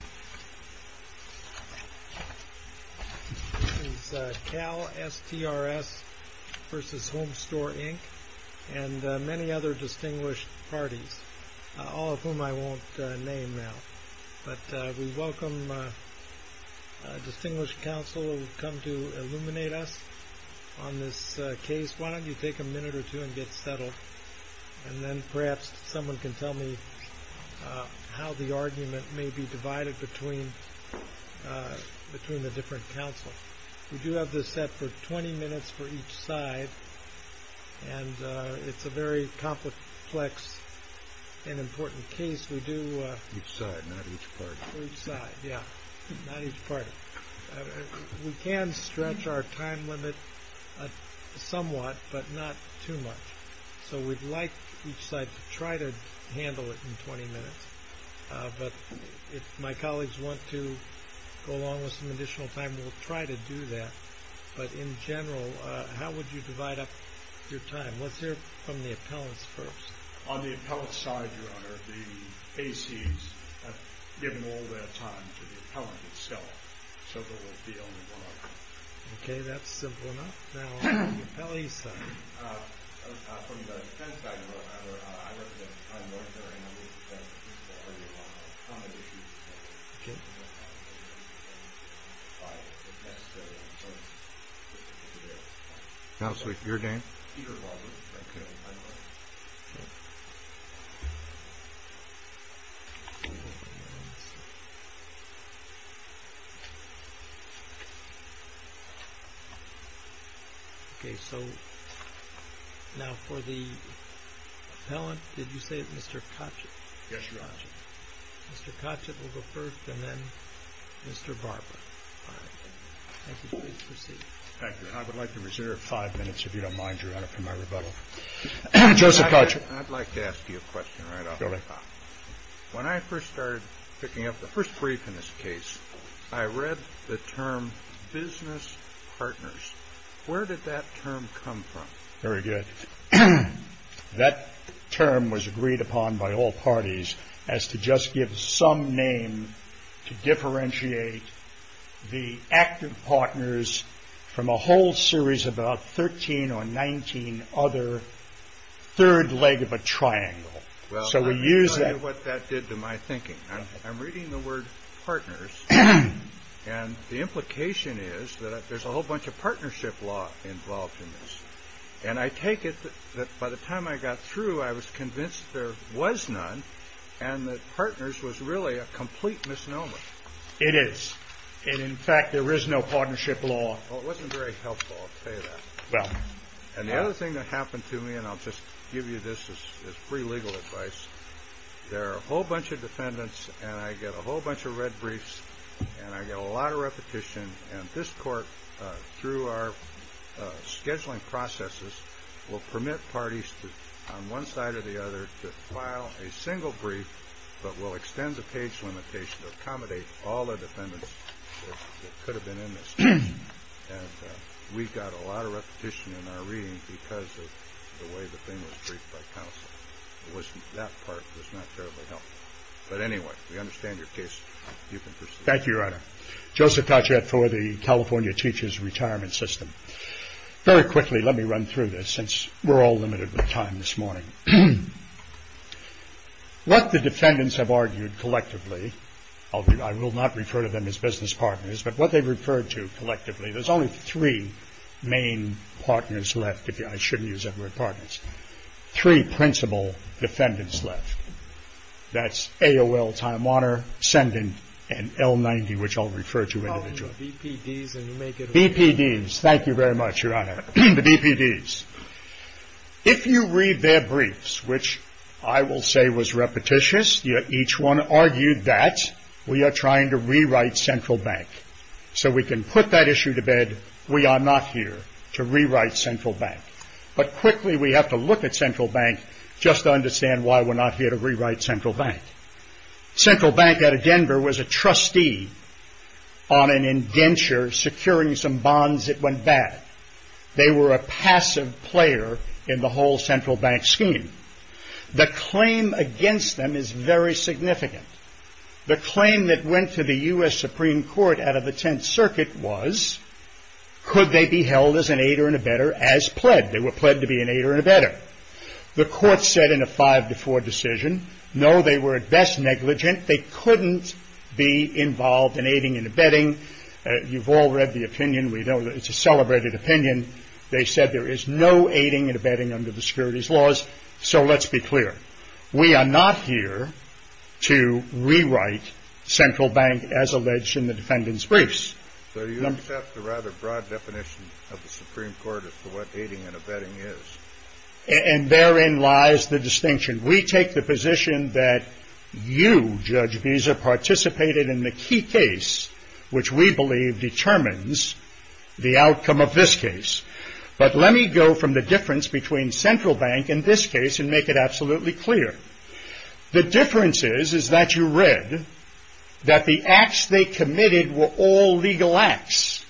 This is CalSTRS v. Homestore, Inc. and many other distinguished parties, all of whom I won't name now. But we welcome distinguished counsel who have come to illuminate us on this case. Why don't you take a minute or two and get settled, and then perhaps someone can tell me how the argument may be divided between the different counsels. We do have this set for 20 minutes for each side, and it's a very complex and important case. Each side, not each party. Each side, yeah, not each party. We can stretch our time limit somewhat, but not too much. So we'd like each side to try to handle it in 20 minutes. But if my colleagues want to go along with some additional time, we'll try to do that. But in general, how would you divide up your time? Let's hear from the appellants first. On the appellant side, Your Honor, the ACs have given all their time to the appellant itself, so there will be only one. Okay, that's simple enough. Now, on the appellee's side. From the defense side, Your Honor, I represent a non-lawyer, and I'm going to defend the principle argument on the accommodation of the appellant. Okay. Counselor, your name? Peter Walden. Okay. Okay, so now for the appellant, did you say Mr. Kochet? Yes, Your Honor. Mr. Kochet will go first, and then Mr. Barber. All right. Thank you, please proceed. Thank you, and I would like to reserve five minutes, if you don't mind, Your Honor, for my rebuttal. Joseph Kochet. I'd like to ask you a question right off the top. Go ahead. When I first started picking up the first brief in this case, I read the term business partners. Where did that term come from? Very good. That term was agreed upon by all parties as to just give some name to differentiate the active partners from a whole series of about 13 or 19 other third leg of a triangle. Well, I'll tell you what that did to my thinking. I'm reading the word partners, and the implication is that there's a whole bunch of partnership law involved in this. And I take it that by the time I got through, I was convinced there was none, and that partners was really a complete misnomer. It is. And in fact, there is no partnership law. Well, it wasn't very helpful, I'll tell you that. Well. And the other thing that happened to me, and I'll just give you this as free legal advice. There are a whole bunch of defendants, and I get a whole bunch of red briefs, and I get a lot of repetition. And this court, through our scheduling processes, will permit parties on one side or the other to file a single brief, but will extend the page limitation to accommodate all the defendants that could have been in this case. And we got a lot of repetition in our reading because of the way the thing was briefed by counsel. That part was not terribly helpful. But anyway, we understand your case. You can proceed. Thank you, Your Honor. Joseph Tachet for the California Teachers Retirement System. Very quickly, let me run through this, since we're all limited with time this morning. What the defendants have argued collectively, I will not refer to them as business partners, but what they referred to collectively. There's only three main partners left. I shouldn't use that word, partners. Three principal defendants left. That's AOL, Time Warner, Senden, and L90, which I'll refer to individually. BPDs. Thank you very much, Your Honor. The BPDs. If you read their briefs, which I will say was repetitious, each one argued that we are trying to rewrite Central Bank so we can put that issue to bed. We are not here to rewrite Central Bank. But quickly, we have to look at Central Bank just to understand why we're not here to rewrite Central Bank. Central Bank out of Denver was a trustee on an indenture securing some bonds that went bad. They were a passive player in the whole Central Bank scheme. The claim against them is very significant. The claim that went to the U.S. Supreme Court out of the Tenth Circuit was, could they be held as an aider and abetter as pled? They were pled to be an aider and abetter. The court said in a 5-4 decision, no, they were at best negligent. They couldn't be involved in aiding and abetting. You've all read the opinion. We know it's a celebrated opinion. They said there is no aiding and abetting under the securities laws, so let's be clear. We are not here to rewrite Central Bank as alleged in the defendant's briefs. So you accept the rather broad definition of the Supreme Court as to what aiding and abetting is? And therein lies the distinction. We take the position that you, Judge Visa, participated in the key case, which we believe determines the outcome of this case. But let me go from the difference between Central Bank and this case and make it absolutely clear. The difference is that you read that the acts they committed were all legal acts.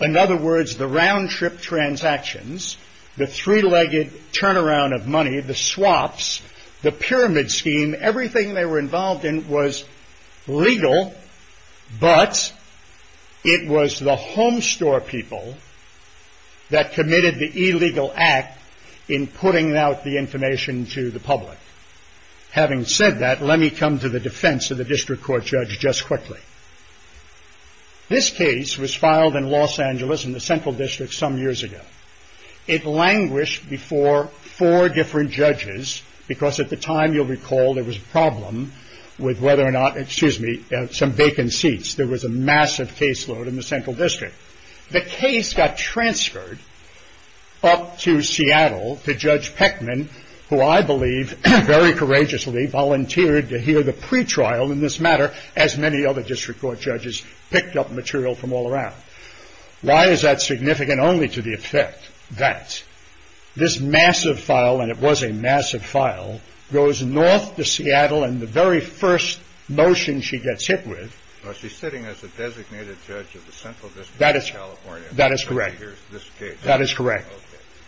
In other words, the round-trip transactions, the three-legged turnaround of money, the swaps, the pyramid scheme, everything they were involved in was legal, but it was the homestore people that committed the illegal act in putting out the information to the public. Having said that, let me come to the defense of the district court judge just quickly. This case was filed in Los Angeles in the Central District some years ago. It languished before four different judges because at the time, you'll recall, there was a problem with whether or not, excuse me, some vacant seats. There was a massive caseload in the Central District. The case got transferred up to Seattle to Judge Peckman, who I believe very courageously volunteered to hear the pretrial in this matter, as many other district court judges picked up material from all around. Why is that significant? Only to the effect that this massive file, and it was a massive file, goes north to Seattle and the very first motion she gets hit with. She's sitting as a designated judge of the Central District of California. That is correct. That is correct.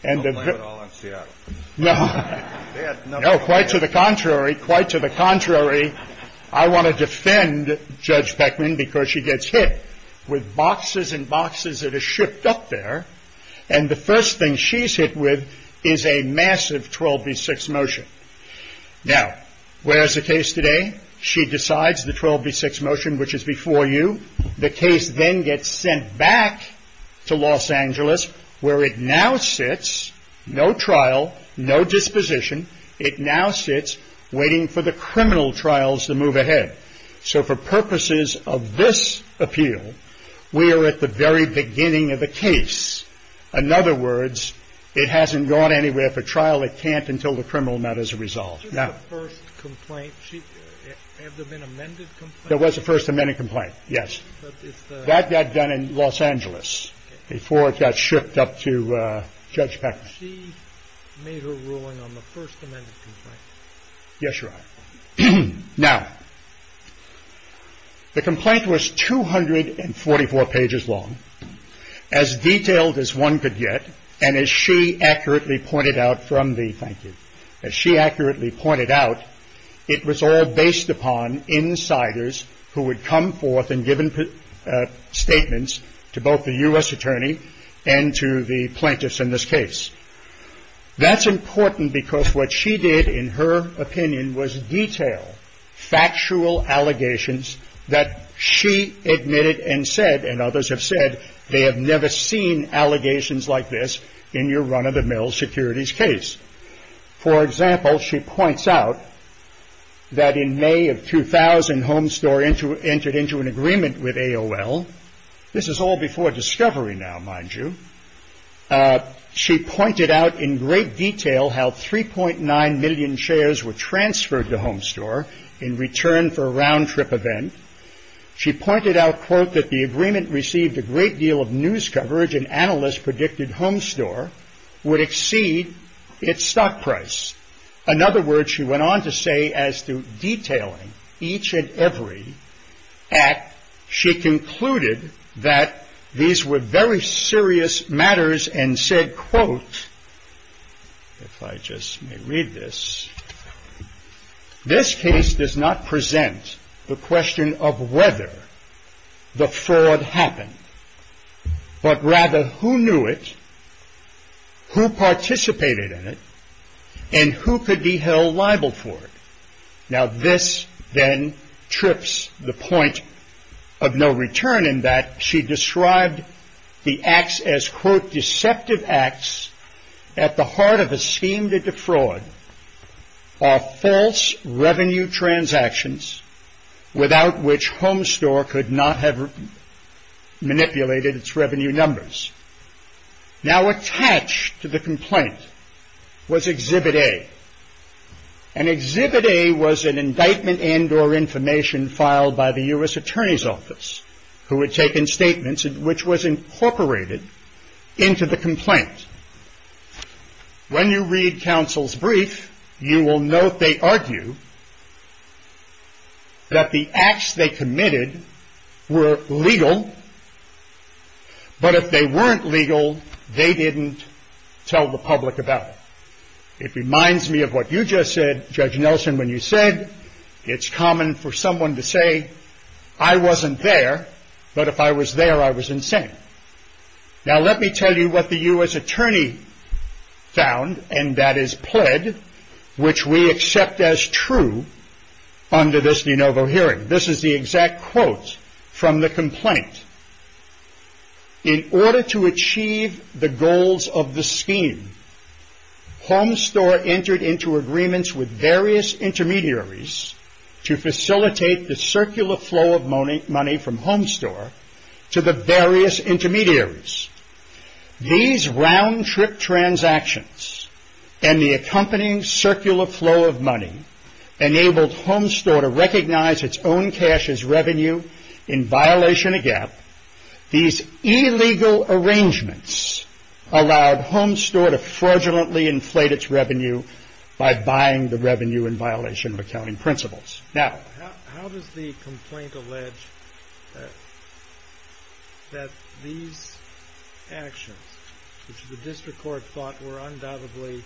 I'll blame it all on Seattle. No, quite to the contrary. Quite to the contrary. I want to defend Judge Peckman because she gets hit with boxes and boxes that are shipped up there. And the first thing she's hit with is a massive 12 v. 6 motion. Now, where is the case today? She decides the 12 v. 6 motion, which is before you. The case then gets sent back to Los Angeles, where it now sits, no trial, no disposition. It now sits waiting for the criminal trials to move ahead. So for purposes of this appeal, we are at the very beginning of the case. In other words, it hasn't gone anywhere for trial. It can't until the criminal matter is resolved. Now. Was this the first complaint? Have there been amended complaints? There was a first amended complaint, yes. That got done in Los Angeles before it got shipped up to Judge Peckman. She made her ruling on the first amended complaint. Yes, Your Honor. Now, the complaint was 244 pages long, as detailed as one could get. And as she accurately pointed out from the plaintiff, as she accurately pointed out, it was all based upon insiders who would come forth and give statements to both the U.S. attorney and to the plaintiffs in this case. That's important because what she did, in her opinion, was detail factual allegations that she admitted and said, and others have said, they have never seen allegations like this in your run-of-the-mill securities case. For example, she points out that in May of 2000, Homestore entered into an agreement with AOL. This is all before discovery now, mind you. She pointed out in great detail how 3.9 million shares were transferred to Homestore in return for a round-trip event. She pointed out, quote, that the agreement received a great deal of news coverage, and analysts predicted Homestore would exceed its stock price. In other words, she went on to say as to detailing each and every act, she concluded that these were very serious matters and said, quote, if I just may read this, this case does not present the question of whether the fraud happened, but rather who knew it, who participated in it, and who could be held liable for it. Now this then trips the point of no return in that she described the acts as, quote, are false revenue transactions without which Homestore could not have manipulated its revenue numbers. Now attached to the complaint was Exhibit A, and Exhibit A was an indictment and or information filed by the U.S. Attorney's Office, who had taken statements which was incorporated into the complaint. When you read counsel's brief, you will note they argue that the acts they committed were legal, but if they weren't legal, they didn't tell the public about it. It reminds me of what you just said, Judge Nelson, when you said, it's common for someone to say, I wasn't there, but if I was there, I was insane. Now let me tell you what the U.S. Attorney found, and that is pled, which we accept as true under this de novo hearing. This is the exact quote from the complaint. In order to achieve the goals of the scheme, Homestore entered into agreements with various intermediaries to facilitate the circular flow of money from Homestore to the various intermediaries. These round-trip transactions and the accompanying circular flow of money enabled Homestore to recognize its own cash as revenue in violation of GAAP. These illegal arrangements allowed Homestore to fraudulently inflate its revenue by buying the revenue in violation of accounting principles. How does the complaint allege that these actions, which the district court thought were undoubtedly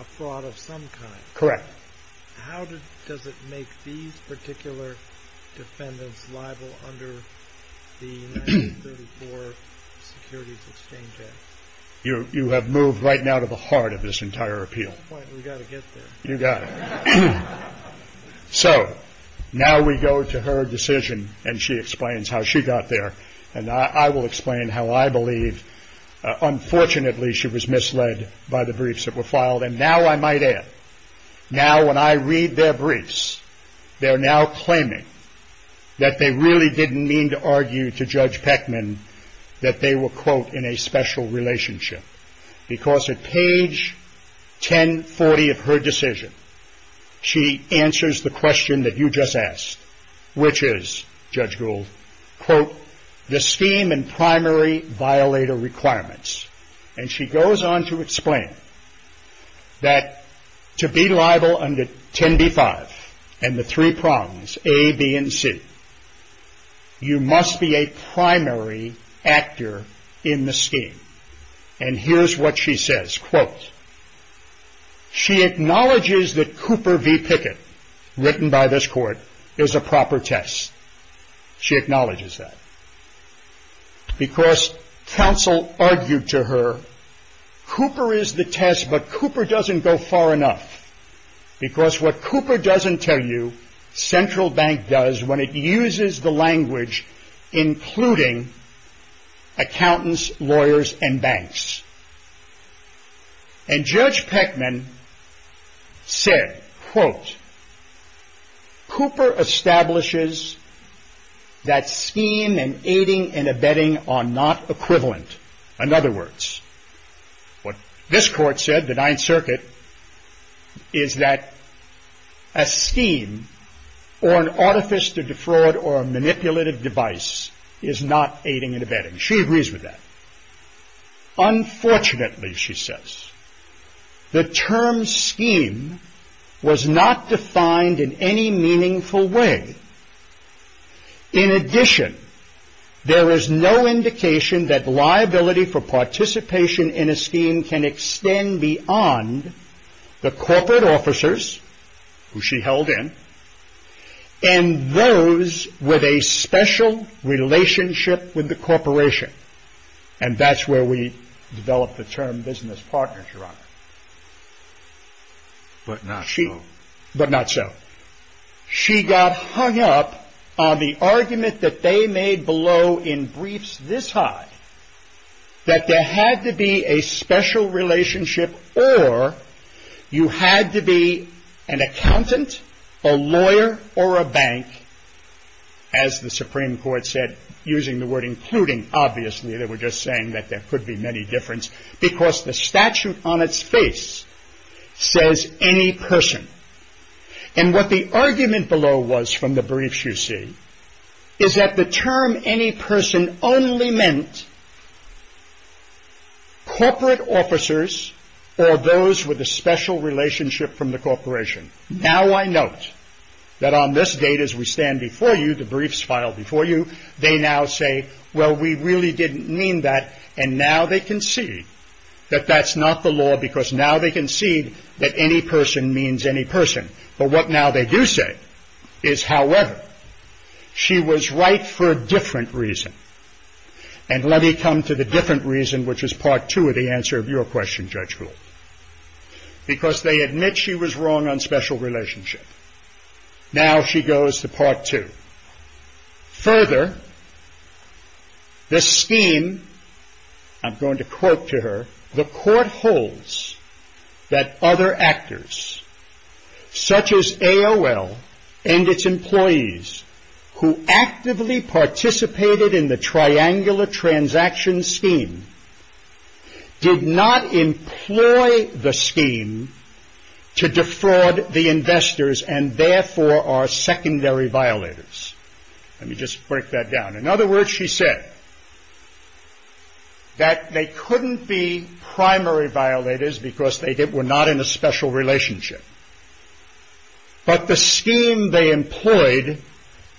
a fraud of some kind, how does it make these particular defendants liable under the 1934 Securities Exchange Act? You have moved right now to the heart of this entire appeal. You got it. So now we go to her decision, and she explains how she got there. And I will explain how I believe. Unfortunately, she was misled by the briefs that were filed. And now I might add, now when I read their briefs, they're now claiming that they really didn't mean to argue to Judge Peckman that they were, quote, in a special relationship. Because at page 1040 of her decision, she answers the question that you just asked, which is, Judge Gould, quote, the scheme and primary violator requirements. And she goes on to explain that to be liable under 10b-5 and the three prongs, A, B, and C, you must be a primary actor in the scheme. And here's what she says, quote, she acknowledges that Cooper v. Pickett, written by this court, is a proper test. She acknowledges that. Because counsel argued to her, Cooper is the test, but Cooper doesn't go far enough. Because what Cooper doesn't tell you, Central Bank does when it uses the language including accountants, lawyers, and banks. And Judge Peckman said, quote, Cooper establishes that scheme and aiding and abetting are not equivalent. In other words, what this court said, the Ninth Circuit, is that a scheme or an artifice to defraud or a manipulative device is not aiding and abetting. She agrees with that. Unfortunately, she says, the term scheme was not defined in any meaningful way. In addition, there is no indication that liability for participation in a scheme can extend beyond the corporate officers, who she held in, and those with a special relationship with the corporation. And that's where we develop the term business partners, Your Honor. But not so. But not so. She got hung up on the argument that they made below in briefs this high, that there had to be a special relationship or you had to be an accountant, a lawyer, or a bank, as the Supreme Court said, using the word including. Obviously, they were just saying that there could be many difference, because the statute on its face says any person. And what the argument below was from the briefs, you see, is that the term any person only meant corporate officers or those with a special relationship from the corporation. Now I note that on this date, as we stand before you, the briefs filed before you, they now say, well, we really didn't mean that. And now they concede that that's not the law, because now they concede that any person means any person. But what now they do say is, however, she was right for a different reason. And let me come to the different reason, which is part two of the answer of your question, Judge Gould. Because they admit she was wrong on special relationship. Now she goes to part two. Further, the scheme, I'm going to quote to her, the court holds that other actors, such as AOL and its employees, who actively participated in the triangular transaction scheme, did not employ the scheme to defraud the investors and therefore are secondary violators. Let me just break that down. In other words, she said that they couldn't be primary violators because they were not in a special relationship. But the scheme they employed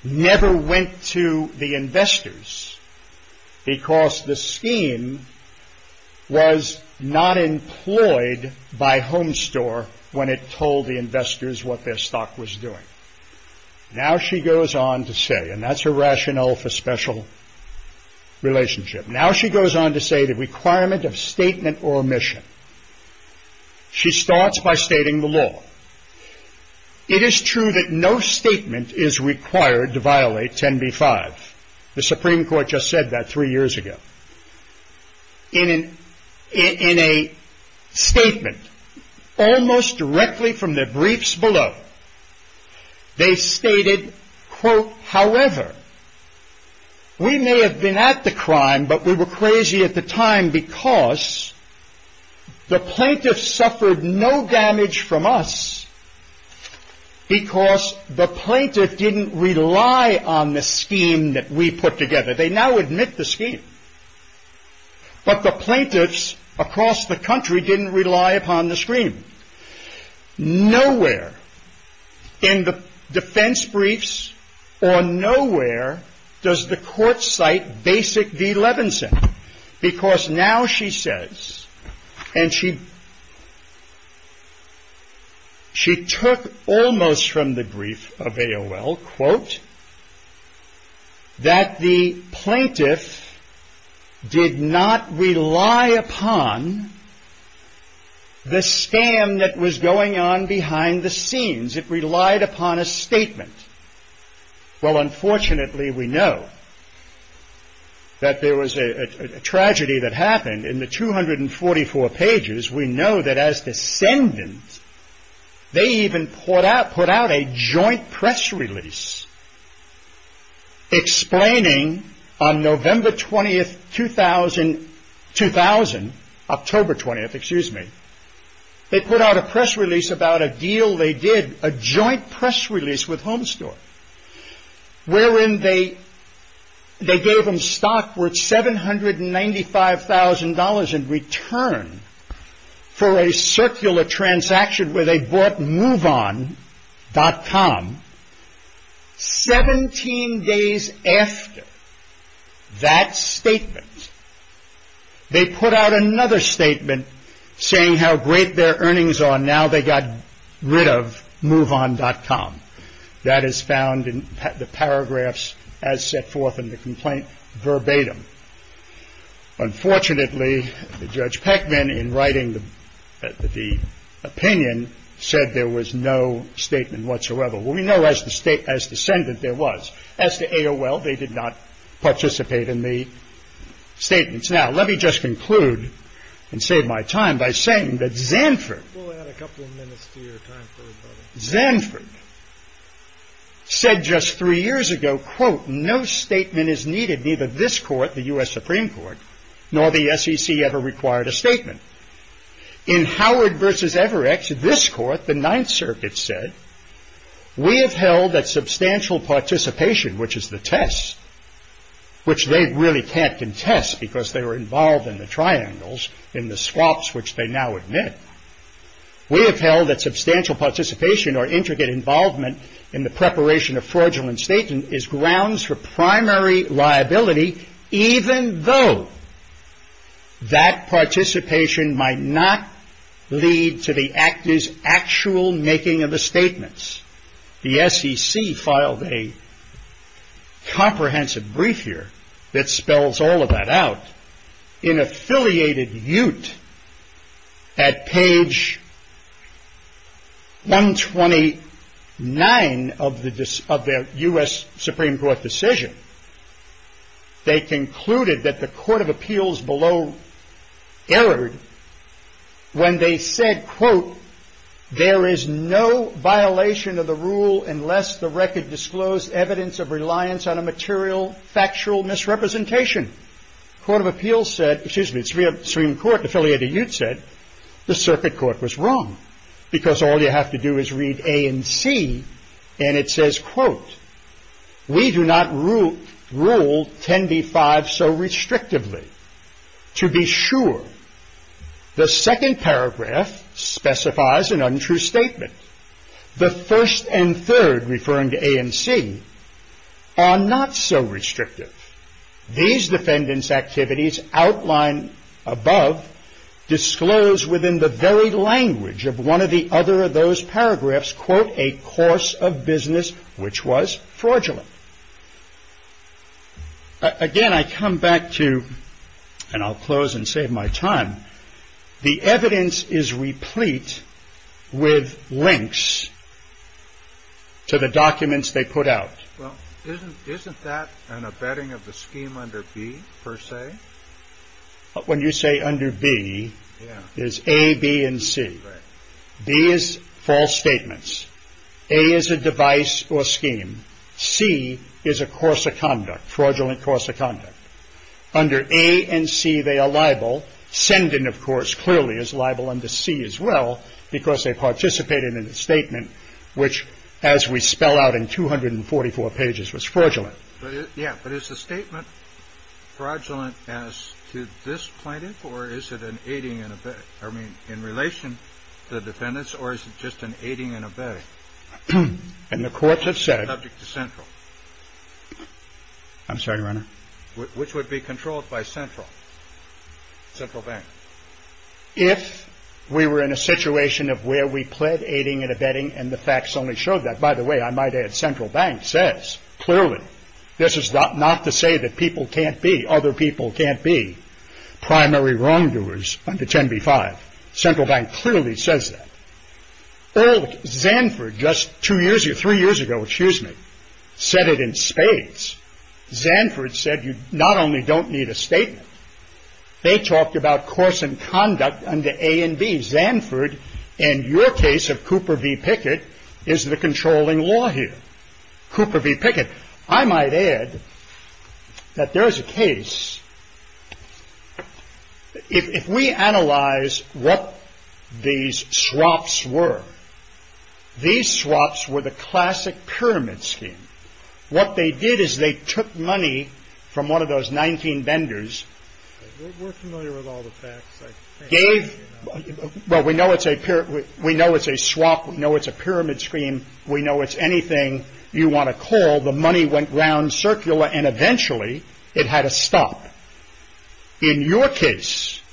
never went to the investors, because the scheme was not employed by Homestore when it told the investors what their stock was doing. Now she goes on to say, and that's her rationale for special relationship, now she goes on to say the requirement of statement or omission. She starts by stating the law. It is true that no statement is required to violate 10b-5. The Supreme Court just said that three years ago. In a statement, almost directly from their briefs below, they stated, quote, however, we may have been at the crime, but we were crazy at the time because the plaintiff suffered no damage from us because the plaintiff didn't rely on the scheme that we put together. They now admit the scheme. But the plaintiffs across the country didn't rely upon the scheme. Nowhere in the defense briefs or nowhere does the court cite basic V. Levenson because now she says, and she took almost from the brief of AOL, quote, that the plaintiff did not rely upon the scam that was going on behind the scenes. It relied upon a statement. Well, unfortunately, we know that there was a tragedy that happened in the 244 pages. We know that as descendants, they even put out a joint press release explaining on November 20th, 2000, October 20th, excuse me, they put out a press release about a deal they did, a joint press release with Home Store, wherein they gave them stock worth $795,000 in return for a circular transaction where they bought moveon.com. Seventeen days after that statement, they put out another statement saying how great their earnings are. Now they got rid of moveon.com. That is found in the paragraphs as set forth in the complaint verbatim. Unfortunately, Judge Peckman, in writing the opinion, said there was no statement whatsoever. We know as descendant there was. As to AOL, they did not participate in the statements. Now, let me just conclude and save my time by saying that Zanford Zanford said just three years ago, quote, no statement is needed. Neither this court, the U.S. Supreme Court, nor the SEC ever required a statement. In Howard versus Everett, this court, the Ninth Circuit said, we have held that substantial participation, which is the test, which they really can't contest because they were involved in the triangles, in the swaps, which they now admit. We have held that substantial participation or intricate involvement in the preparation of fraudulent statements is grounds for primary liability, even though that participation might not lead to the actor's actual making of the statements. The SEC filed a comprehensive brief here that spells all of that out. In affiliated ute at page 129 of the U.S. Supreme Court decision, they concluded that the court of appeals below errored when they said, quote, there is no violation of the rule unless the record disclosed evidence of reliance on a material, factual misrepresentation. The Supreme Court affiliated ute said the circuit court was wrong because all you have to do is read A and C and it says, quote, we do not rule 10b-5 so restrictively. To be sure, the second paragraph specifies an untrue statement. The first and third, referring to A and C, are not so restrictive. These defendants' activities outlined above disclose within the very language of one of the other of those paragraphs, quote, a course of business which was fraudulent. Again, I come back to, and I'll close and save my time, the evidence is replete with links to the documents they put out. Isn't that an abetting of the scheme under B, per se? When you say under B, it's A, B, and C. B is false statements. A is a device or scheme. C is a course of conduct, fraudulent course of conduct. Under A and C, they are liable. Sending, of course, clearly is liable under C as well because they participated in a statement which, as we spell out in 244 pages, was fraudulent. Yeah, but is the statement fraudulent as to this plaintiff or is it an aiding and abetting? I mean, in relation to the defendants or is it just an aiding and abetting? And the courts have said. Subject to central. I'm sorry, Your Honor. Which would be controlled by central? Central bank. If we were in a situation of where we pled aiding and abetting and the facts only showed that, by the way, I might add central bank says clearly, this is not to say that people can't be, other people can't be, primary wrongdoers under 10b-5. Central bank clearly says that. Zanford just two years ago, three years ago, excuse me, said it in spades. Zanford said you not only don't need a statement. They talked about course and conduct under a and b. Zanford and your case of Cooper v. Pickett is the controlling law here. Cooper v. Pickett. I might add that there is a case. If we analyze what these swaps were, these swaps were the classic pyramid scheme. What they did is they took money from one of those 19 vendors. We're familiar with all the facts. Well, we know it's a swap. We know it's a pyramid scheme. We know it's anything you want to call. The money went round circular and eventually it had to stop. In your case,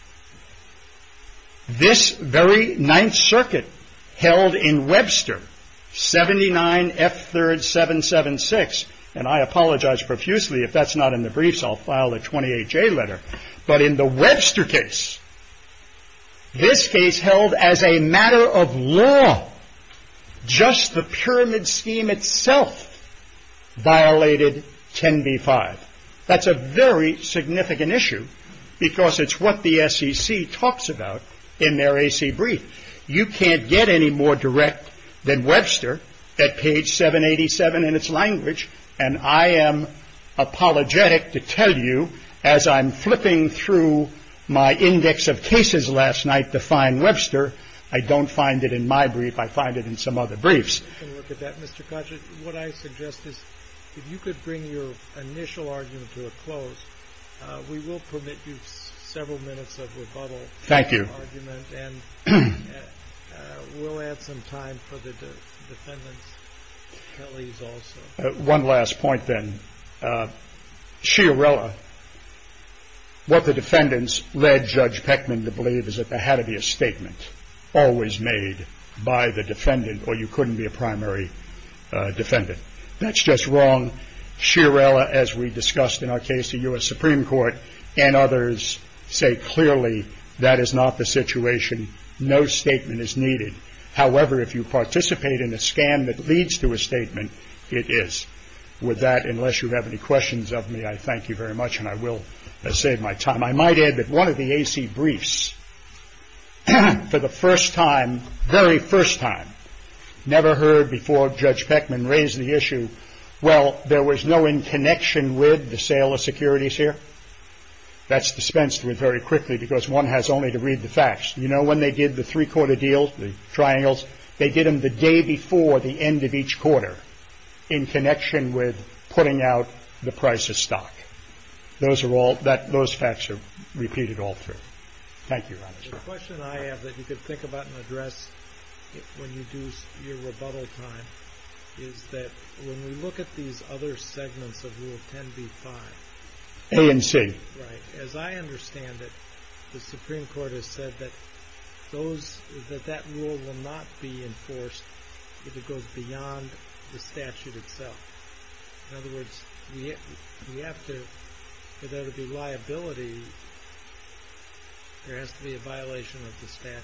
this very 9th circuit held in Webster, 79F3rd776, and I apologize profusely. If that's not in the briefs, I'll file a 28J letter. But in the Webster case, this case held as a matter of law. Just the pyramid scheme itself violated 10b-5. That's a very significant issue because it's what the SEC talks about in their AC brief. You can't get any more direct than Webster at page 787 in its language. And I am apologetic to tell you, as I'm flipping through my index of cases last night to find Webster, I don't find it in my brief. I find it in some other briefs. Mr. Koch, what I suggest is if you could bring your initial argument to a close, we will permit you several minutes of rebuttal. Thank you. And we'll add some time for the defendants. One last point, then. Shiarella, what the defendants led Judge Peckman to believe is that there had to be a statement always made by the defendant, or you couldn't be a primary defendant. That's just wrong. Shiarella, as we discussed in our case to U.S. Supreme Court and others, say clearly that is not the situation. No statement is needed. However, if you participate in a scam that leads to a statement, it is. With that, unless you have any questions of me, I thank you very much, and I will save my time. I might add that one of the AC briefs, for the first time, very first time, never heard before Judge Peckman raise the issue, well, there was no in connection with the sale of securities here. That's dispensed with very quickly because one has only to read the facts. You know, when they did the three-quarter deal, the triangles, they did them the day before the end of each quarter, in connection with putting out the price of stock. Those are all, those facts are repeated all through. Thank you, Roberts. The question I have that you could think about and address when you do your rebuttal time is that when we look at these other segments of Rule 10b-5. A and C. Right. As I understand it, the Supreme Court has said that those, that that rule will not be enforced if it goes beyond the statute itself. In other words, we have to, for there to be liability, there has to be a violation of the statute.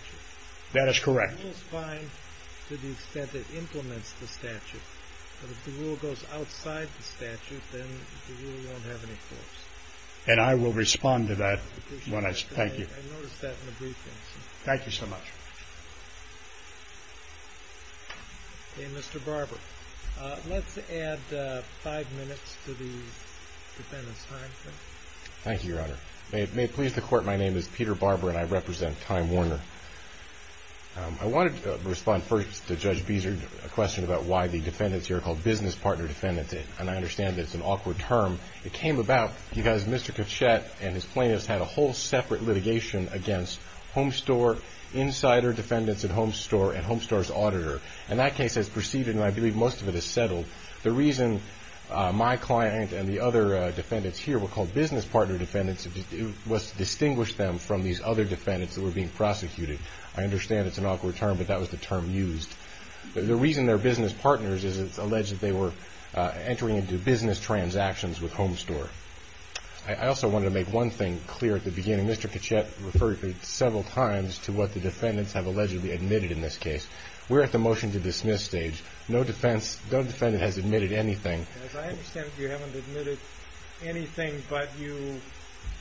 That is correct. The rule is fine to the extent it implements the statute, but if the rule goes outside the statute, then the rule won't have any force. And I will respond to that when I, thank you. I noticed that in the brief answer. Thank you so much. Okay, Mr. Barber. Let's add five minutes to the defendant's time, please. Thank you, Your Honor. May it please the Court, my name is Peter Barber and I represent Time Warner. I wanted to respond first to Judge Beeser, a question about why the defendants here are called business partner defendants. And I understand that it's an awkward term. It came about because Mr. Kvatchet and his plaintiffs had a whole separate litigation against Homestore, insider defendants at Homestore, and Homestore's auditor. And that case has proceeded, and I believe most of it has settled. The reason my client and the other defendants here were called business partner defendants was to distinguish them from these other defendants that were being prosecuted. I understand it's an awkward term, but that was the term used. The reason they're business partners is it's alleged that they were entering into business transactions with Homestore. I also wanted to make one thing clear at the beginning. Mr. Kvatchet referred several times to what the defendants have allegedly admitted in this case. We're at the motion to dismiss stage. No defendant has admitted anything. As I understand it, you haven't admitted anything, but you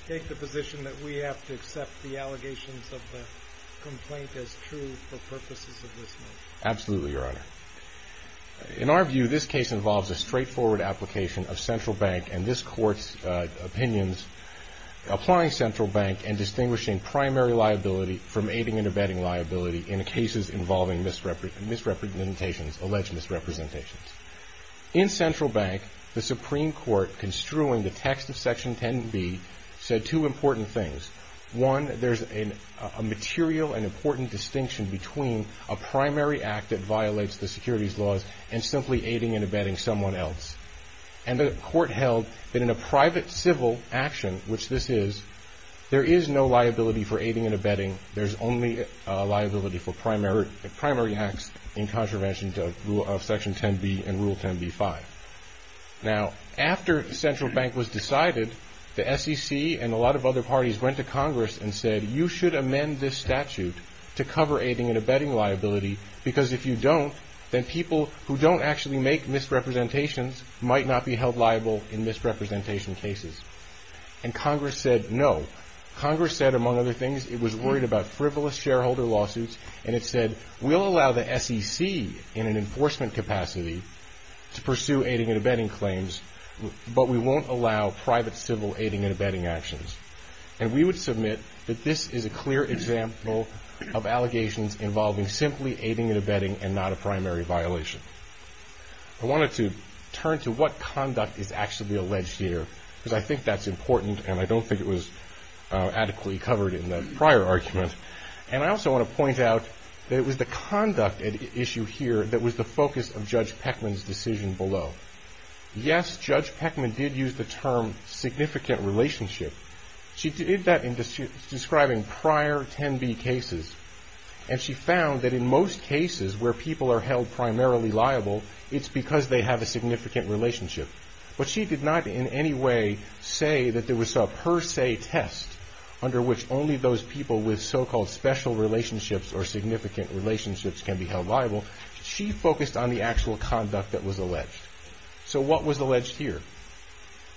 take the position that we have to accept the allegations of the complaint as true for purposes of dismissal. Absolutely, Your Honor. In our view, this case involves a straightforward application of central bank and this court's opinions, applying central bank and distinguishing primary liability from aiding and abetting liability in cases involving misrepresentations, alleged misrepresentations. In central bank, the Supreme Court construing the text of Section 10B said two important things. One, there's a material and important distinction between a primary act that violates the securities laws and simply aiding and abetting someone else. And the court held that in a private civil action, which this is, there is no liability for aiding and abetting. There's only a liability for primary acts in contravention of Section 10B and Rule 10B-5. Now, after central bank was decided, the SEC and a lot of other parties went to Congress and said, you should amend this statute to cover aiding and abetting liability because if you don't, then people who don't actually make misrepresentations might not be held liable in misrepresentation cases. And Congress said no. Congress said, among other things, it was worried about frivolous shareholder lawsuits and it said, we'll allow the SEC in an enforcement capacity to pursue aiding and abetting claims, but we won't allow private civil aiding and abetting actions. And we would submit that this is a clear example of allegations involving simply aiding and abetting and not a primary violation. I wanted to turn to what conduct is actually alleged here because I think that's important and I don't think it was adequately covered in the prior argument. And I also want to point out that it was the conduct issue here that was the focus of Judge Peckman's decision below. Yes, Judge Peckman did use the term significant relationship. She did that in describing prior 10B cases. And she found that in most cases where people are held primarily liable, it's because they have a significant relationship. But she did not in any way say that there was a per se test under which only those people with so-called special relationships or significant relationships can be held liable. She focused on the actual conduct that was alleged. So what was alleged here?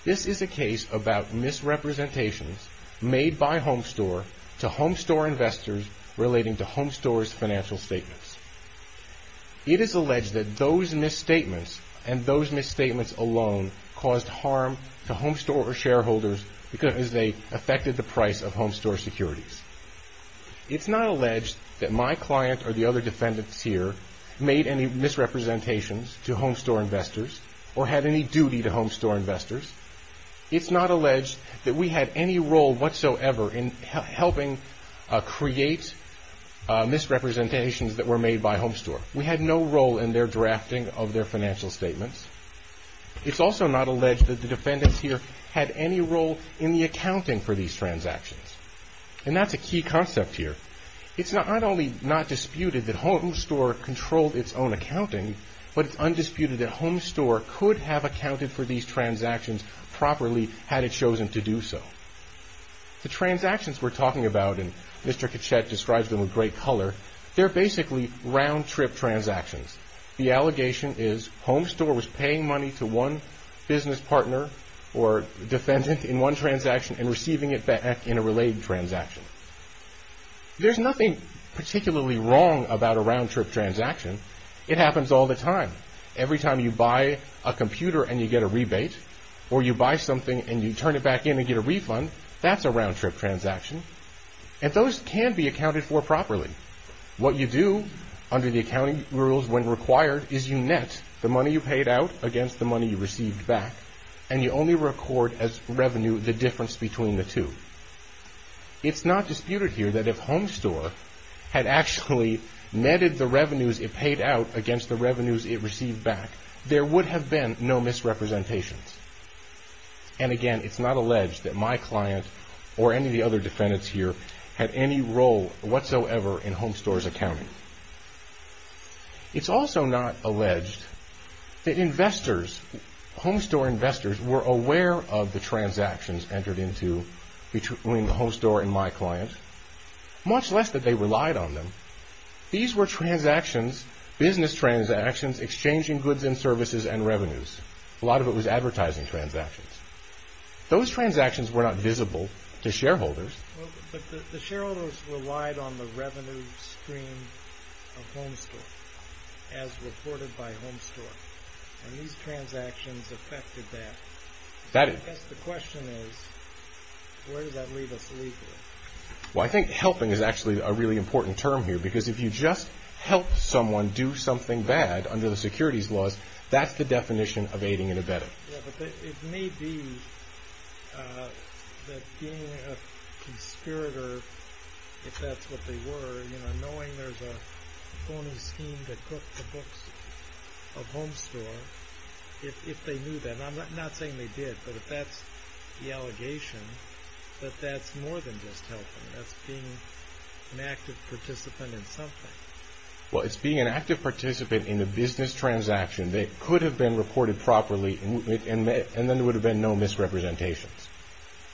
This is a case about misrepresentations made by Homestore to Homestore investors relating to Homestore's financial statements. It is alleged that those misstatements and those misstatements alone caused harm to Homestore or shareholders because they affected the price of Homestore securities. It's not alleged that my client or the other defendants here made any misrepresentations to Homestore investors or had any duty to Homestore investors. It's not alleged that we had any role whatsoever in helping create misrepresentations that were made by Homestore. We had no role in their drafting of their financial statements. It's also not alleged that the defendants here had any role in the accounting for these transactions. And that's a key concept here. It's not only not disputed that Homestore controlled its own accounting, but it's undisputed that Homestore could have accounted for these transactions properly had it chosen to do so. The transactions we're talking about, and Mr. Kachet describes them with great color, they're basically round-trip transactions. The allegation is Homestore was paying money to one business partner or defendant in one transaction and receiving it back in a related transaction. There's nothing particularly wrong about a round-trip transaction. It happens all the time. Every time you buy a computer and you get a rebate, or you buy something and you turn it back in and get a refund, that's a round-trip transaction. And those can be accounted for properly. What you do under the accounting rules when required is you net the money you paid out against the money you received back, and you only record as revenue the difference between the two. It's not disputed here that if Homestore had actually netted the revenues it paid out against the revenues it received back, there would have been no misrepresentations. And again, it's not alleged that my client or any of the other defendants here had any role whatsoever in Homestore's accounting. It's also not alleged that investors, Homestore investors, were aware of the transactions entered into between the Homestore and my client, much less that they relied on them. These were transactions, business transactions, exchanging goods and services and revenues. A lot of it was advertising transactions. Those transactions were not visible to shareholders. But the shareholders relied on the revenue stream of Homestore, as reported by Homestore. And these transactions affected that. I guess the question is, where does that leave us legally? Well, I think helping is actually a really important term here, because if you just help someone do something bad under the securities laws, that's the definition of aiding and abetting. Yeah, but it may be that being a conspirator, if that's what they were, you know, knowing there's a phony scheme to cook the books of Homestore, if they knew that, and I'm not saying they did, but if that's the allegation, that that's more than just helping. That's being an active participant in something. Well, it's being an active participant in the business transaction that could have been reported properly, and then there would have been no misrepresentations.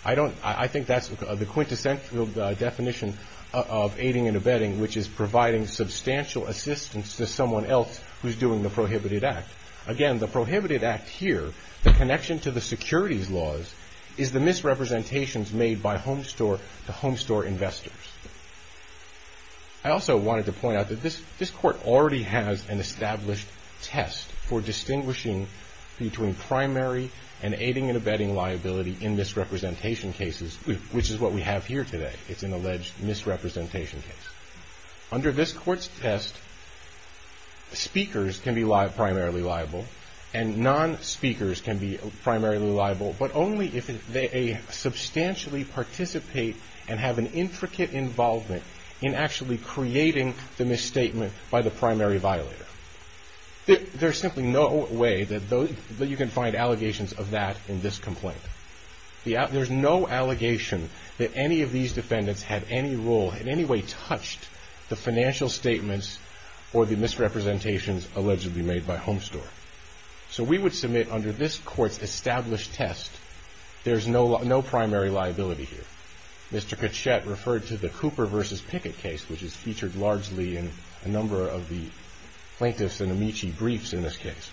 I think that's the quintessential definition of aiding and abetting, which is providing substantial assistance to someone else who's doing the prohibited act. Again, the prohibited act here, the connection to the securities laws, is the misrepresentations made by the Homestore investors. I also wanted to point out that this court already has an established test for distinguishing between primary and aiding and abetting liability in misrepresentation cases, which is what we have here today. It's an alleged misrepresentation case. Under this court's test, speakers can be primarily liable, and non-speakers can be primarily liable, but only if they substantially participate and have an intricate involvement in actually creating the misstatement by the primary violator. There's simply no way that you can find allegations of that in this complaint. There's no allegation that any of these defendants had any role, in any way, touched the financial statements or the misrepresentations allegedly made by Homestore. So we would submit under this court's established test, there's no primary liability here. Mr. Kachet referred to the Cooper v. Pickett case, which is featured largely in a number of the plaintiffs' and Amici briefs in this case.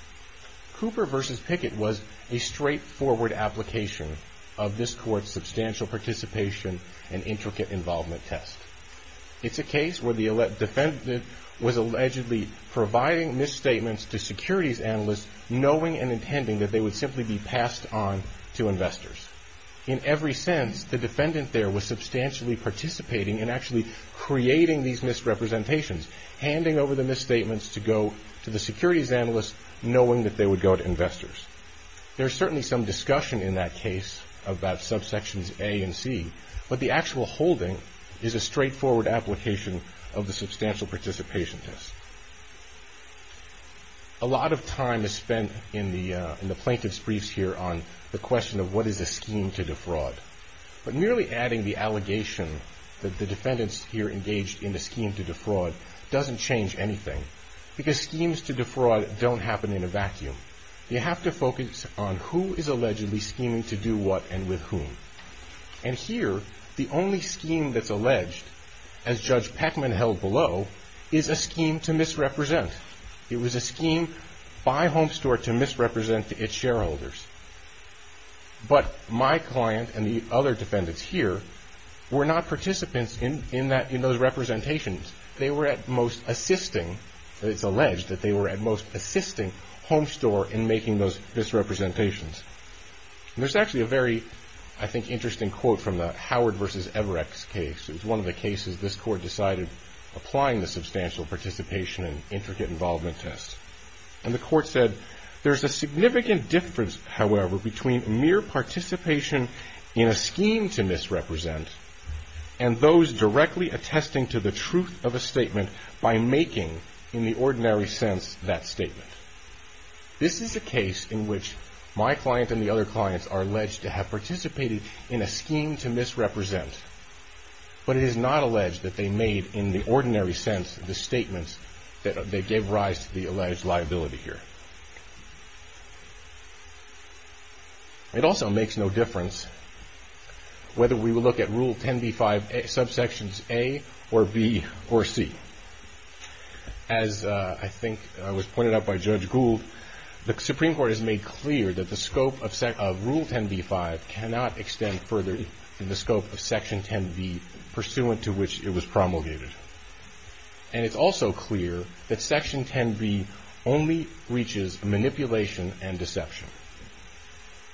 Cooper v. Pickett was a straightforward application of this court's substantial participation and intricate involvement test. It's a case where the defendant was allegedly providing misstatements to securities analysts, knowing and intending that they would simply be passed on to investors. In every sense, the defendant there was substantially participating in actually creating these misrepresentations, handing over the misstatements to go to the securities analysts, knowing that they would go to investors. There's certainly some discussion in that case about subsections A and C, but the actual holding is a straightforward application of the substantial participation test. A lot of time is spent in the plaintiffs' briefs here on the question of what is a scheme to defraud. But merely adding the allegation that the defendants here engaged in a scheme to defraud doesn't change anything, because schemes to defraud don't happen in a vacuum. You have to focus on who is allegedly scheming to do what and with whom. And here, the only scheme that's alleged, as Judge Peckman held below, is a scheme to misrepresent. It was a scheme by Homestore to misrepresent to its shareholders. But my client and the other defendants here were not participants in those representations. They were at most assisting. It's alleged that they were at most assisting Homestore in making those misrepresentations. There's actually a very, I think, interesting quote from the Howard v. Everett case. It's one of the cases this Court decided applying the substantial participation and intricate involvement test. And the Court said, There is a significant difference, however, between mere participation in a scheme to misrepresent and those directly attesting to the truth of a statement by making, in the ordinary sense, that statement. This is a case in which my client and the other clients are alleged to have participated in a scheme to misrepresent. But it is not alleged that they made, in the ordinary sense, the statements that they gave rise to the alleged liability here. It also makes no difference whether we look at Rule 10b-5 subsections A or B or C. As I think was pointed out by Judge Gould, the Supreme Court has made clear that the scope of Rule 10b-5 cannot extend further than the scope of Section 10b, pursuant to which it was promulgated. And it's also clear that Section 10b only reaches manipulation and deception.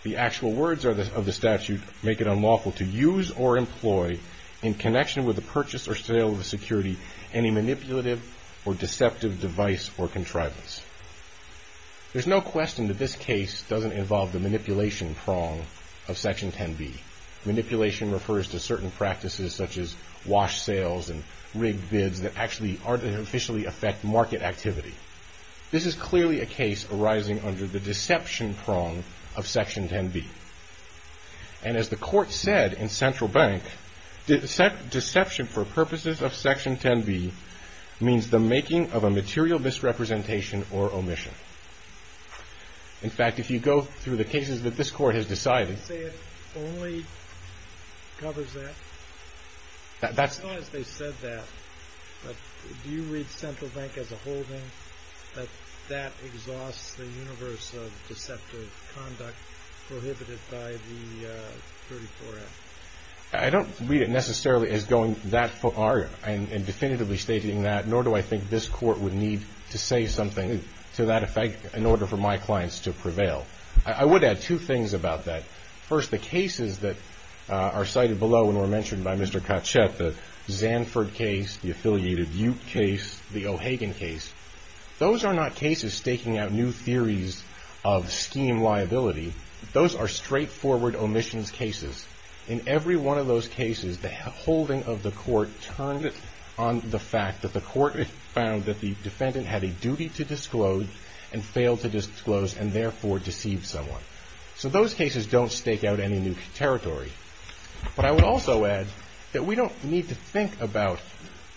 The actual words of the statute make it unlawful to use or employ, in connection with the purchase or sale of a security, any manipulative or deceptive device or contrivance. There's no question that this case doesn't involve the manipulation prong of Section 10b. Manipulation refers to certain practices such as wash sales and rigged bids that actually artificially affect market activity. This is clearly a case arising under the deception prong of Section 10b. And as the Court said in Central Bank, deception for purposes of Section 10b means the making of a material misrepresentation or omission. In fact, if you go through the cases that this Court has decided- You say it only covers that? That's- I don't read it necessarily as going that far and definitively stating that, nor do I think this Court would need to say something to that effect in order for my clients to prevail. I would add two things about that. First, the cases that are cited below and were mentioned by Mr. Kachet, the Zanford case, the affiliated Ute case, the O'Hagan case, those are not cases staking out new theories of scheme liability. Those are straightforward omissions cases. In every one of those cases, the holding of the Court turned it on the fact that the Court found that the defendant had a duty to disclose and failed to disclose and therefore deceived someone. So those cases don't stake out any new territory. But I would also add that we don't need to think about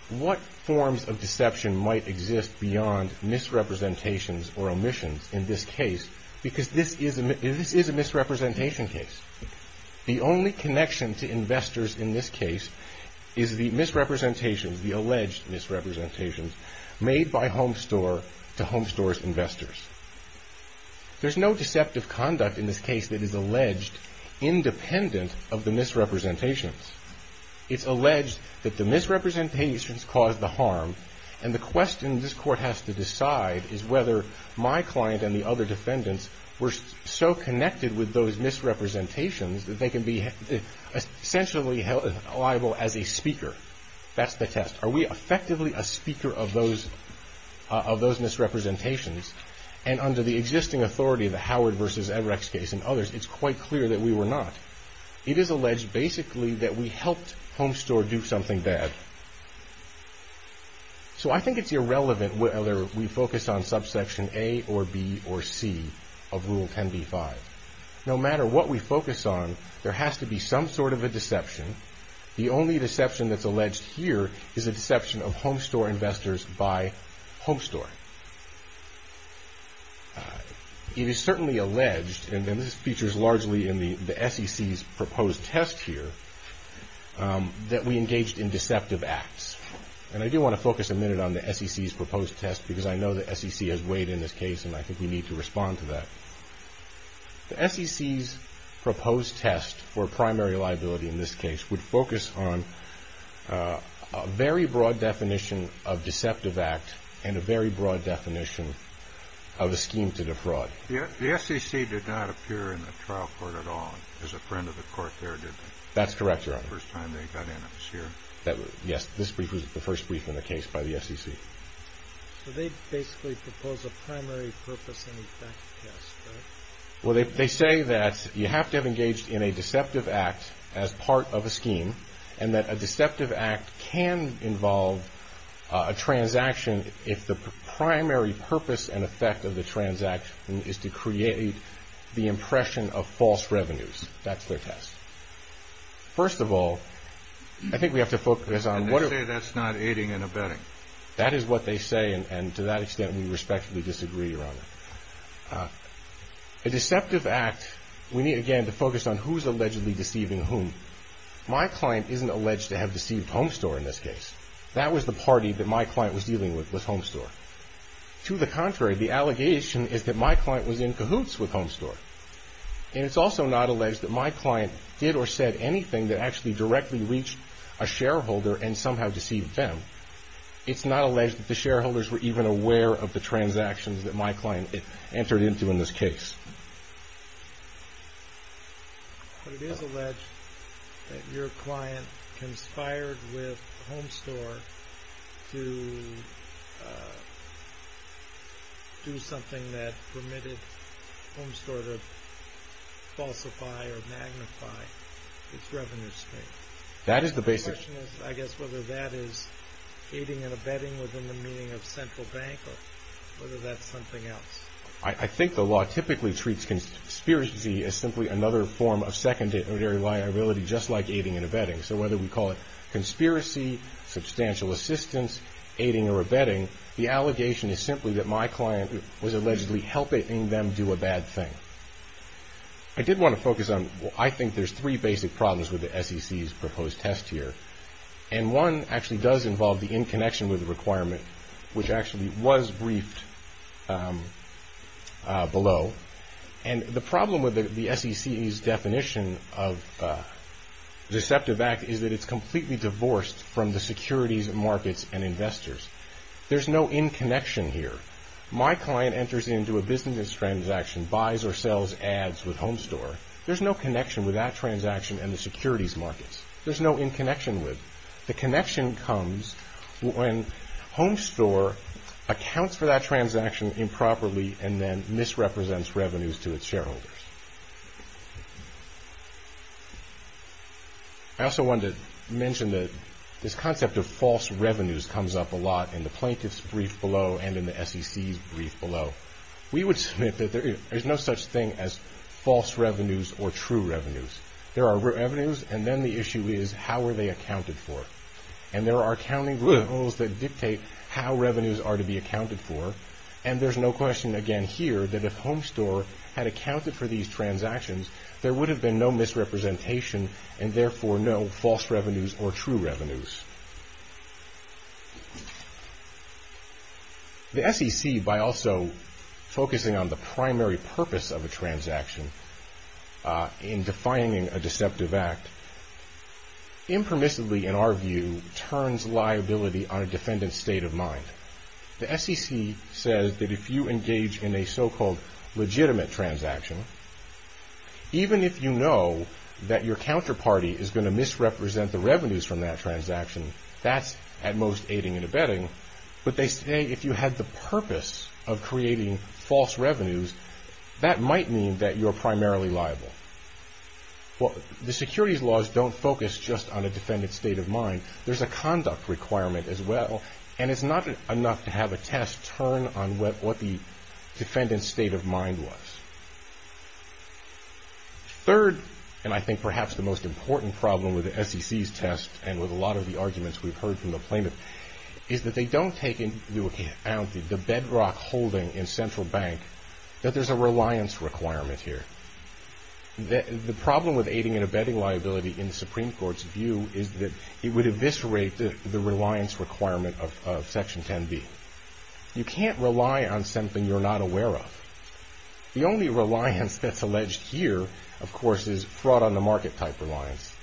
what forms of deception might exist beyond misrepresentations or omissions in this case because this is a misrepresentation case. The only connection to investors in this case is the misrepresentations, the alleged misrepresentations made by Homestore to Homestore's investors. There's no deceptive conduct in this case that is alleged independent of the misrepresentations. It's alleged that the misrepresentations caused the harm and the question this Court has to decide is whether my client and the other defendants were so connected with those misrepresentations that they can be essentially liable as a speaker. That's the test. Are we effectively a speaker of those misrepresentations? And under the existing authority of the Howard v. Everett case and others, it's quite clear that we were not. It is alleged basically that we helped Homestore do something bad. So I think it's irrelevant whether we focus on subsection A or B or C of Rule 10b-5. No matter what we focus on, there has to be some sort of a deception. The only deception that's alleged here is a deception of Homestore investors by Homestore. It is certainly alleged, and this features largely in the SEC's proposed test here, that we engaged in deceptive acts. And I do want to focus a minute on the SEC's proposed test because I know the SEC has weighed in this case and I think we need to respond to that. The SEC's proposed test for primary liability in this case would focus on a very broad definition of deceptive act and a very broad definition of a scheme to defraud. The SEC did not appear in the trial court at all as a friend of the court there, did they? That's correct, Your Honor. The first time they got in, it was here. Yes, this brief was the first brief in the case by the SEC. So they basically proposed a primary purpose and effect test, right? Well, they say that you have to have engaged in a deceptive act as part of a scheme and that a deceptive act can involve a transaction if the primary purpose and effect of the transaction is to create the impression of false revenues. That's their test. First of all, I think we have to focus on what... And they say that's not aiding and abetting. That is what they say, and to that extent we respectfully disagree, Your Honor. A deceptive act, we need again to focus on who's allegedly deceiving whom. My client isn't alleged to have deceived Homestore in this case. That was the party that my client was dealing with, with Homestore. To the contrary, the allegation is that my client was in cahoots with Homestore. And it's also not alleged that my client did or said anything that actually directly reached a shareholder and somehow deceived them. It's not alleged that the shareholders were even aware of the transactions that my client entered into in this case. But it is alleged that your client conspired with Homestore to do something that permitted Homestore to falsify or magnify its revenue stream. That is the basic... My question is, I guess, whether that is aiding and abetting within the meaning of central bank or whether that's something else. I think the law typically treats conspiracy as simply another form of secondary liability, just like aiding and abetting. So whether we call it conspiracy, substantial assistance, aiding or abetting, the allegation is simply that my client was allegedly helping them do a bad thing. I did want to focus on... I think there's three basic problems with the SEC's proposed test here. And one actually does involve the in connection with the requirement, which actually was briefed below. And the problem with the SEC's definition of deceptive act is that it's completely divorced from the securities markets and investors. There's no in connection here. My client enters into a business transaction, buys or sells ads with Homestore. There's no connection with that transaction and the securities markets. There's no in connection with. The connection comes when Homestore accounts for that transaction improperly and then misrepresents revenues to its shareholders. I also wanted to mention that this concept of false revenues comes up a lot in the plaintiff's brief below and in the SEC's brief below. We would submit that there is no such thing as false revenues or true revenues. There are revenues. And then the issue is how are they accounted for? And there are accounting rules that dictate how revenues are to be accounted for. And there's no question again here that if Homestore had accounted for these transactions, there would have been no misrepresentation and therefore no false revenues or true revenues. The SEC, by also focusing on the primary purpose of a transaction in defining a deceptive act, impermissibly in our view, turns liability on a defendant's state of mind. The SEC says that if you engage in a so-called legitimate transaction, even if you know that your counterparty is going to misrepresent the revenues from that transaction, that's at most aiding and abetting. But they say if you had the purpose of creating false revenues, that might mean that you're primarily liable. The securities laws don't focus just on a defendant's state of mind. There's a conduct requirement as well. And it's not enough to have a test turn on what the defendant's state of mind was. Third, and I think perhaps the most important problem with the SEC's test and with a lot of the arguments we've heard from the plaintiff, is that they don't take into account the bedrock holding in Central Bank that there's a reliance requirement here. The problem with aiding and abetting liability in the Supreme Court's view is that it would eviscerate the reliance requirement of Section 10b. You can't rely on something you're not aware of. The only reliance that's alleged here, of course, is fraud-on-the-market type reliance,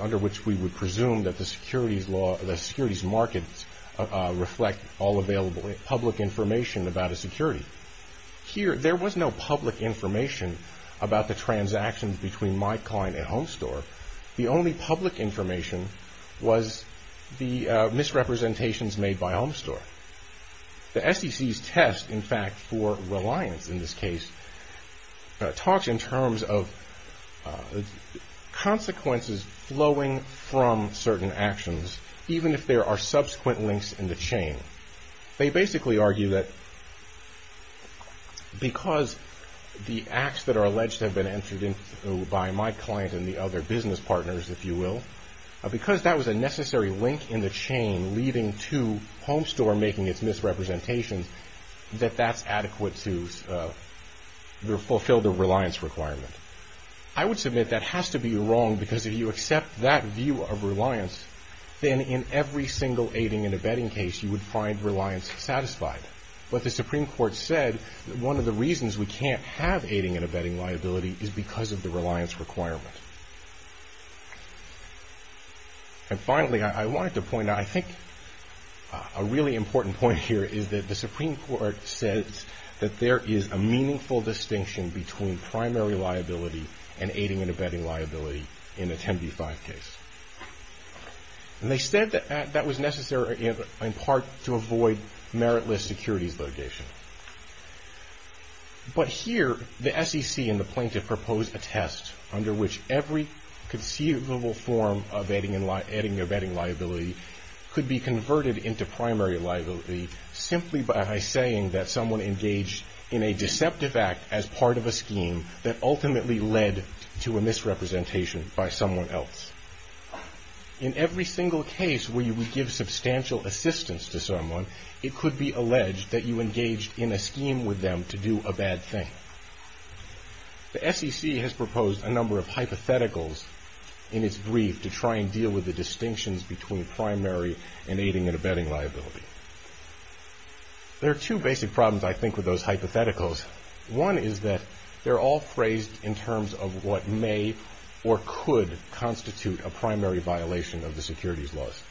under which we would presume that the securities markets reflect all available public information about a security. Here, there was no public information about the transactions between my client and Home Store. The only public information was the misrepresentations made by Home Store. The SEC's test, in fact, for reliance in this case, talks in terms of consequences flowing from certain actions, even if there are subsequent links in the chain. They basically argue that because the acts that are alleged have been entered into by my client and the other business partners, if you will, because that was a necessary link in the chain leading to Home Store making its misrepresentations, that that's adequate to fulfill the reliance requirement. I would submit that has to be wrong, because if you accept that view of reliance, then in every single aiding and abetting case, you would find reliance satisfied. But the Supreme Court said that one of the reasons we can't have aiding and abetting liability is because of the reliance requirement. And finally, I wanted to point out, I think a really important point here, is that the Supreme Court says that there is a meaningful distinction between primary liability and aiding and abetting liability in a 10b-5 case. And they said that that was necessary in part to avoid meritless securities litigation. But here, the SEC and the plaintiff propose a test under which every conceivable form of aiding and abetting liability could be converted into primary liability simply by saying that someone engaged in a deceptive act as part of a scheme that ultimately led to a misrepresentation by someone else. In every single case where you would give substantial assistance to someone, it could be alleged that you engaged in a scheme with them to do a bad thing. The SEC has proposed a number of hypotheticals in its brief to try and deal with the distinctions between primary and aiding and abetting liability. There are two basic problems, I think, with those hypotheticals. One is that they're all phrased in terms of what may or could constitute a primary violation of the securities laws.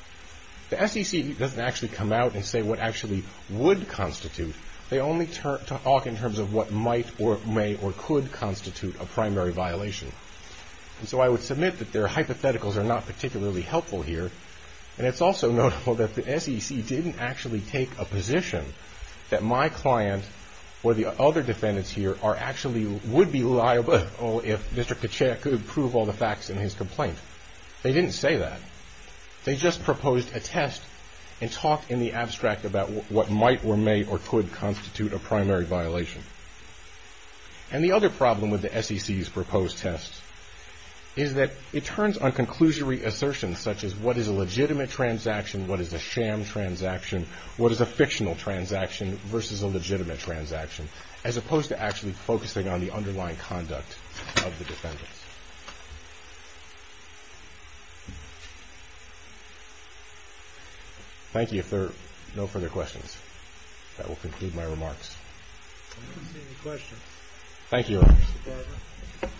The SEC doesn't actually come out and say what actually would constitute. They only talk in terms of what might or may or could constitute a primary violation. And so I would submit that their hypotheticals are not particularly helpful here. And it's also notable that the SEC didn't actually take a position that my client or the other defendants here actually would be liable if Mr. Kechaia could prove all the facts in his complaint. They didn't say that. They just proposed a test and talked in the abstract about what might or may or could constitute a primary violation. And the other problem with the SEC's proposed test is that it turns on conclusory assertions such as what is a legitimate transaction, what is a sham transaction, what is a fictional transaction versus a legitimate transaction, as opposed to actually focusing on the underlying conduct of the defendants. Thank you. If there are no further questions, that will conclude my remarks. I don't see any questions. Thank you, Your Honor. Mr. Barber.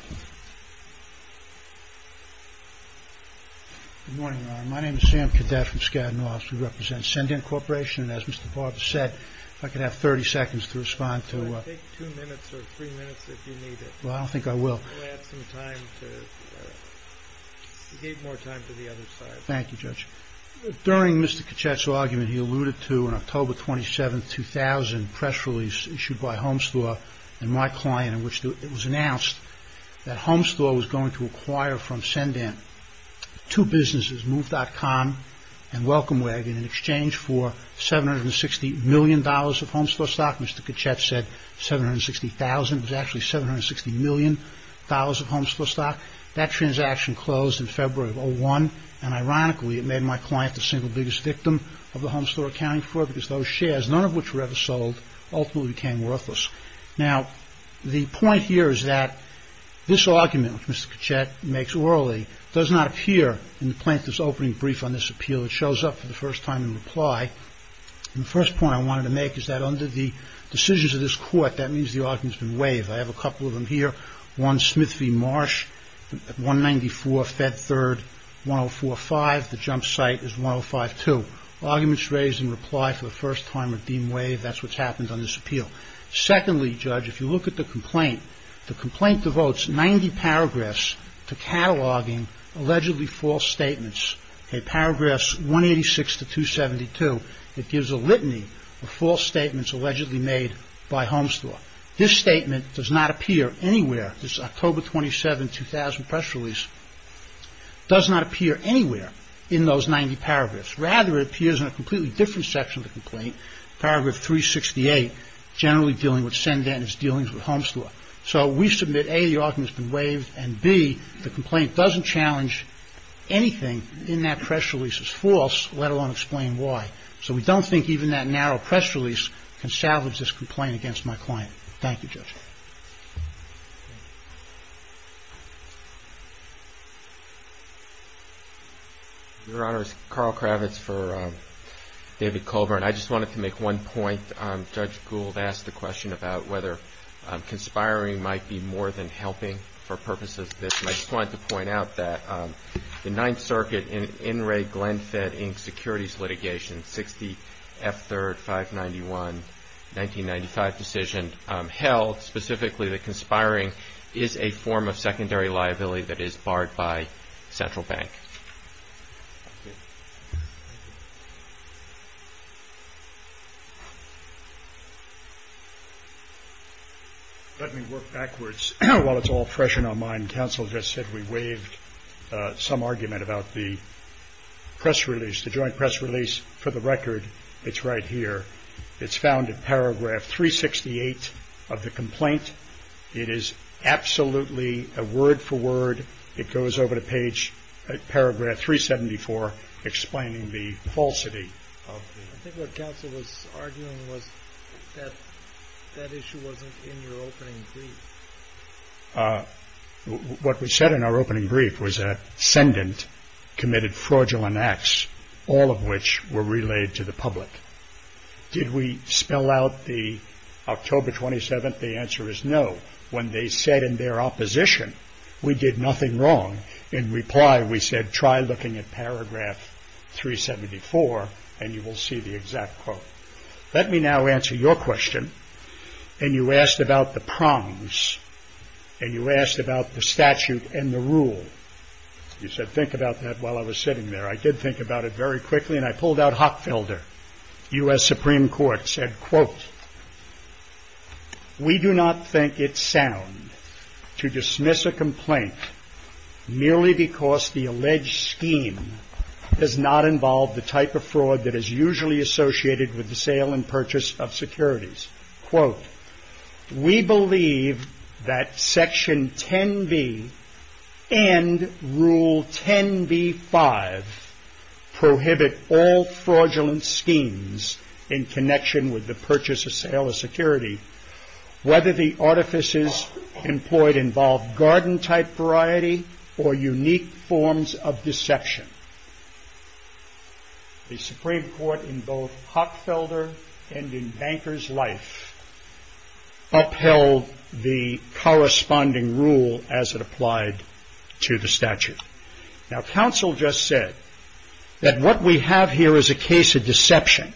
Good morning, Your Honor. My name is Sam Cadet from Skadden Laws. We represent Send-In Corporation. And as Mr. Barber said, if I could have 30 seconds to respond to— Take two minutes or three minutes if you need it. Well, I don't think I will. We'll add some time to—we gave more time to the other side. Thank you, Judge. During Mr. Kechaia's argument, he alluded to an October 27, 2000, press release issued by Homestore and my client in which it was announced that Homestore was going to acquire from Send-In two businesses, Move.com and Welcome Wagon, in exchange for $760 million of Homestore stock. Mr. Kechaia said $760,000. It was actually $760 million of Homestore stock. That transaction closed in February of 2001. And ironically, it made my client the single biggest victim of the Homestore accounting fraud because those shares, none of which were ever sold, ultimately became worthless. Now, the point here is that this argument, which Mr. Kechaia makes orally, does not appear in the plaintiff's opening brief on this appeal. It shows up for the first time in reply. And the first point I wanted to make is that under the decisions of this court, that means the argument has been waived. I have a couple of them here. One, Smith v. Marsh at 194 Fed Third, 1045. The jump site is 1052. Arguments raised in reply for the first time are deemed waived. That's what's happened on this appeal. Secondly, Judge, if you look at the complaint, the complaint devotes 90 paragraphs to cataloging allegedly false statements. In paragraphs 186 to 272, it gives a litany of false statements allegedly made by Homestore. This statement does not appear anywhere. This October 27, 2000 press release does not appear anywhere in those 90 paragraphs. Rather, it appears in a completely different section of the complaint, paragraph 368, generally dealing with send-in as dealing with Homestore. So we submit, A, the argument has been waived, and, B, the complaint doesn't challenge anything in that press release as false, let alone explain why. So we don't think even that narrow press release can salvage this complaint against my client. Thank you, Judge. Your Honor, this is Carl Kravitz for David Colburn. I just wanted to make one point. Judge Gould asked the question about whether conspiring might be more than helping for purposes of this. And I just wanted to point out that the Ninth Circuit, in In re Glenfiddich securities litigation, 60 F3, 591, 1995 decision, held specifically that conspiring is a form of secondary liability that is barred by Central Bank. Let me work backwards. While it's all fresh in our mind, Counsel just said we waived some argument about the press release, the joint press release. For the record, it's right here. It's found in paragraph 368 of the complaint. It is absolutely a word-for-word. It goes over to page, paragraph 374, explaining the falsity. I think what Counsel was arguing was that that issue wasn't in your opening brief. What we said in our opening brief was that ascendant committed fraudulent acts, all of which were relayed to the public. Did we spell out the October 27th? The answer is no. When they said in their opposition, we did nothing wrong. In reply, we said try looking at paragraph 374, and you will see the exact quote. Let me now answer your question, and you asked about the prongs, and you asked about the statute and the rule. You said think about that while I was sitting there. I did think about it very quickly, and I pulled out Hockfelder. U.S. Supreme Court said, quote, We do not think it sound to dismiss a complaint merely because the alleged scheme does not involve the type of fraud that is usually associated with the sale and purchase of securities. Quote, We believe that Section 10b and Rule 10b-5 prohibit all fraudulent schemes in connection with the purchase or sale of security, whether the artifices employed involve garden-type variety or unique forms of deception. The Supreme Court in both Hockfelder and in Banker's life upheld the corresponding rule as it applied to the statute. Now, counsel just said that what we have here is a case of deception,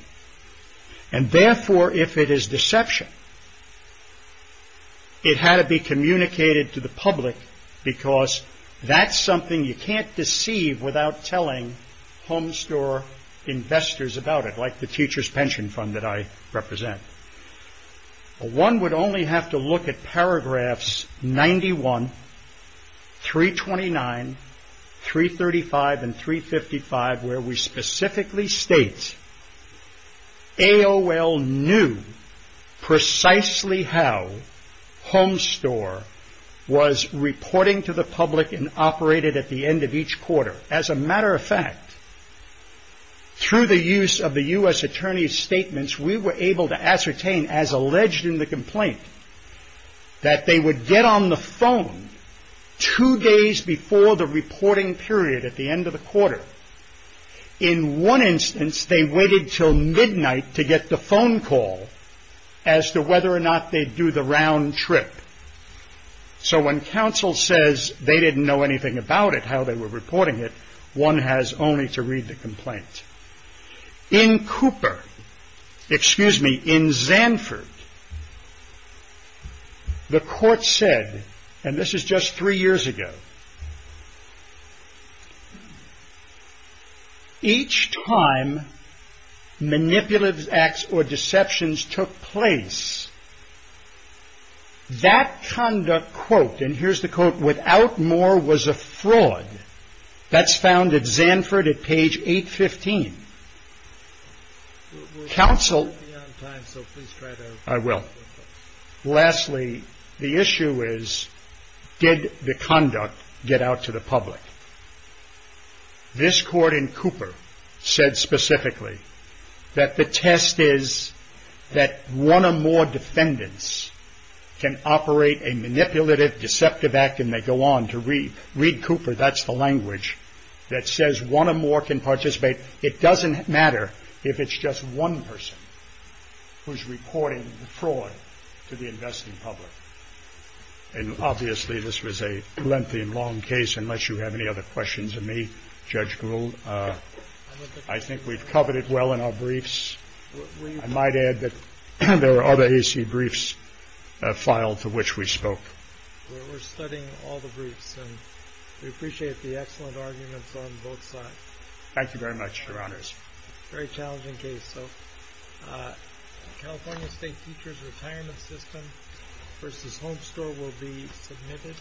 and therefore if it is deception, it had to be communicated to the public because that's something you can't deceive without telling home store investors about it, like the teacher's pension fund that I represent. One would only have to look at paragraphs 91, 329, 335, and 355, where we specifically state AOL knew precisely how home store was reporting to the public and operated at the end of each quarter. As a matter of fact, through the use of the U.S. Attorney's statements, we were able to ascertain, as alleged in the complaint, that they would get on the phone two days before the reporting period at the end of the quarter. In one instance, they waited until midnight to get the phone call as to whether or not they'd do the round trip. So when counsel says they didn't know anything about it, how they were reporting it, one has only to read the complaint. In Cooper, excuse me, in Zanford, the court said, and this is just three years ago, each time manipulative acts or deceptions took place, that conduct, quote, and here's the quote, without more was a fraud. That's found at Zanford at page 815. Counsel, I will. Lastly, the issue is, did the conduct get out to the public? This court in Cooper said specifically that the test is that one or more defendants can operate a manipulative, deceptive act, and they go on to read Cooper, that's the language, that says one or more can participate. It doesn't matter if it's just one person who's reporting the fraud to the investing public. And obviously this was a lengthy and long case, unless you have any other questions of me, Judge Gould. I think we've covered it well in our briefs. I might add that there are other AC briefs filed to which we spoke. We're studying all the briefs, and we appreciate the excellent arguments on both sides. Thank you very much, Your Honors. Very challenging case, so California State Teachers Retirement System v. Home Store will be submitted.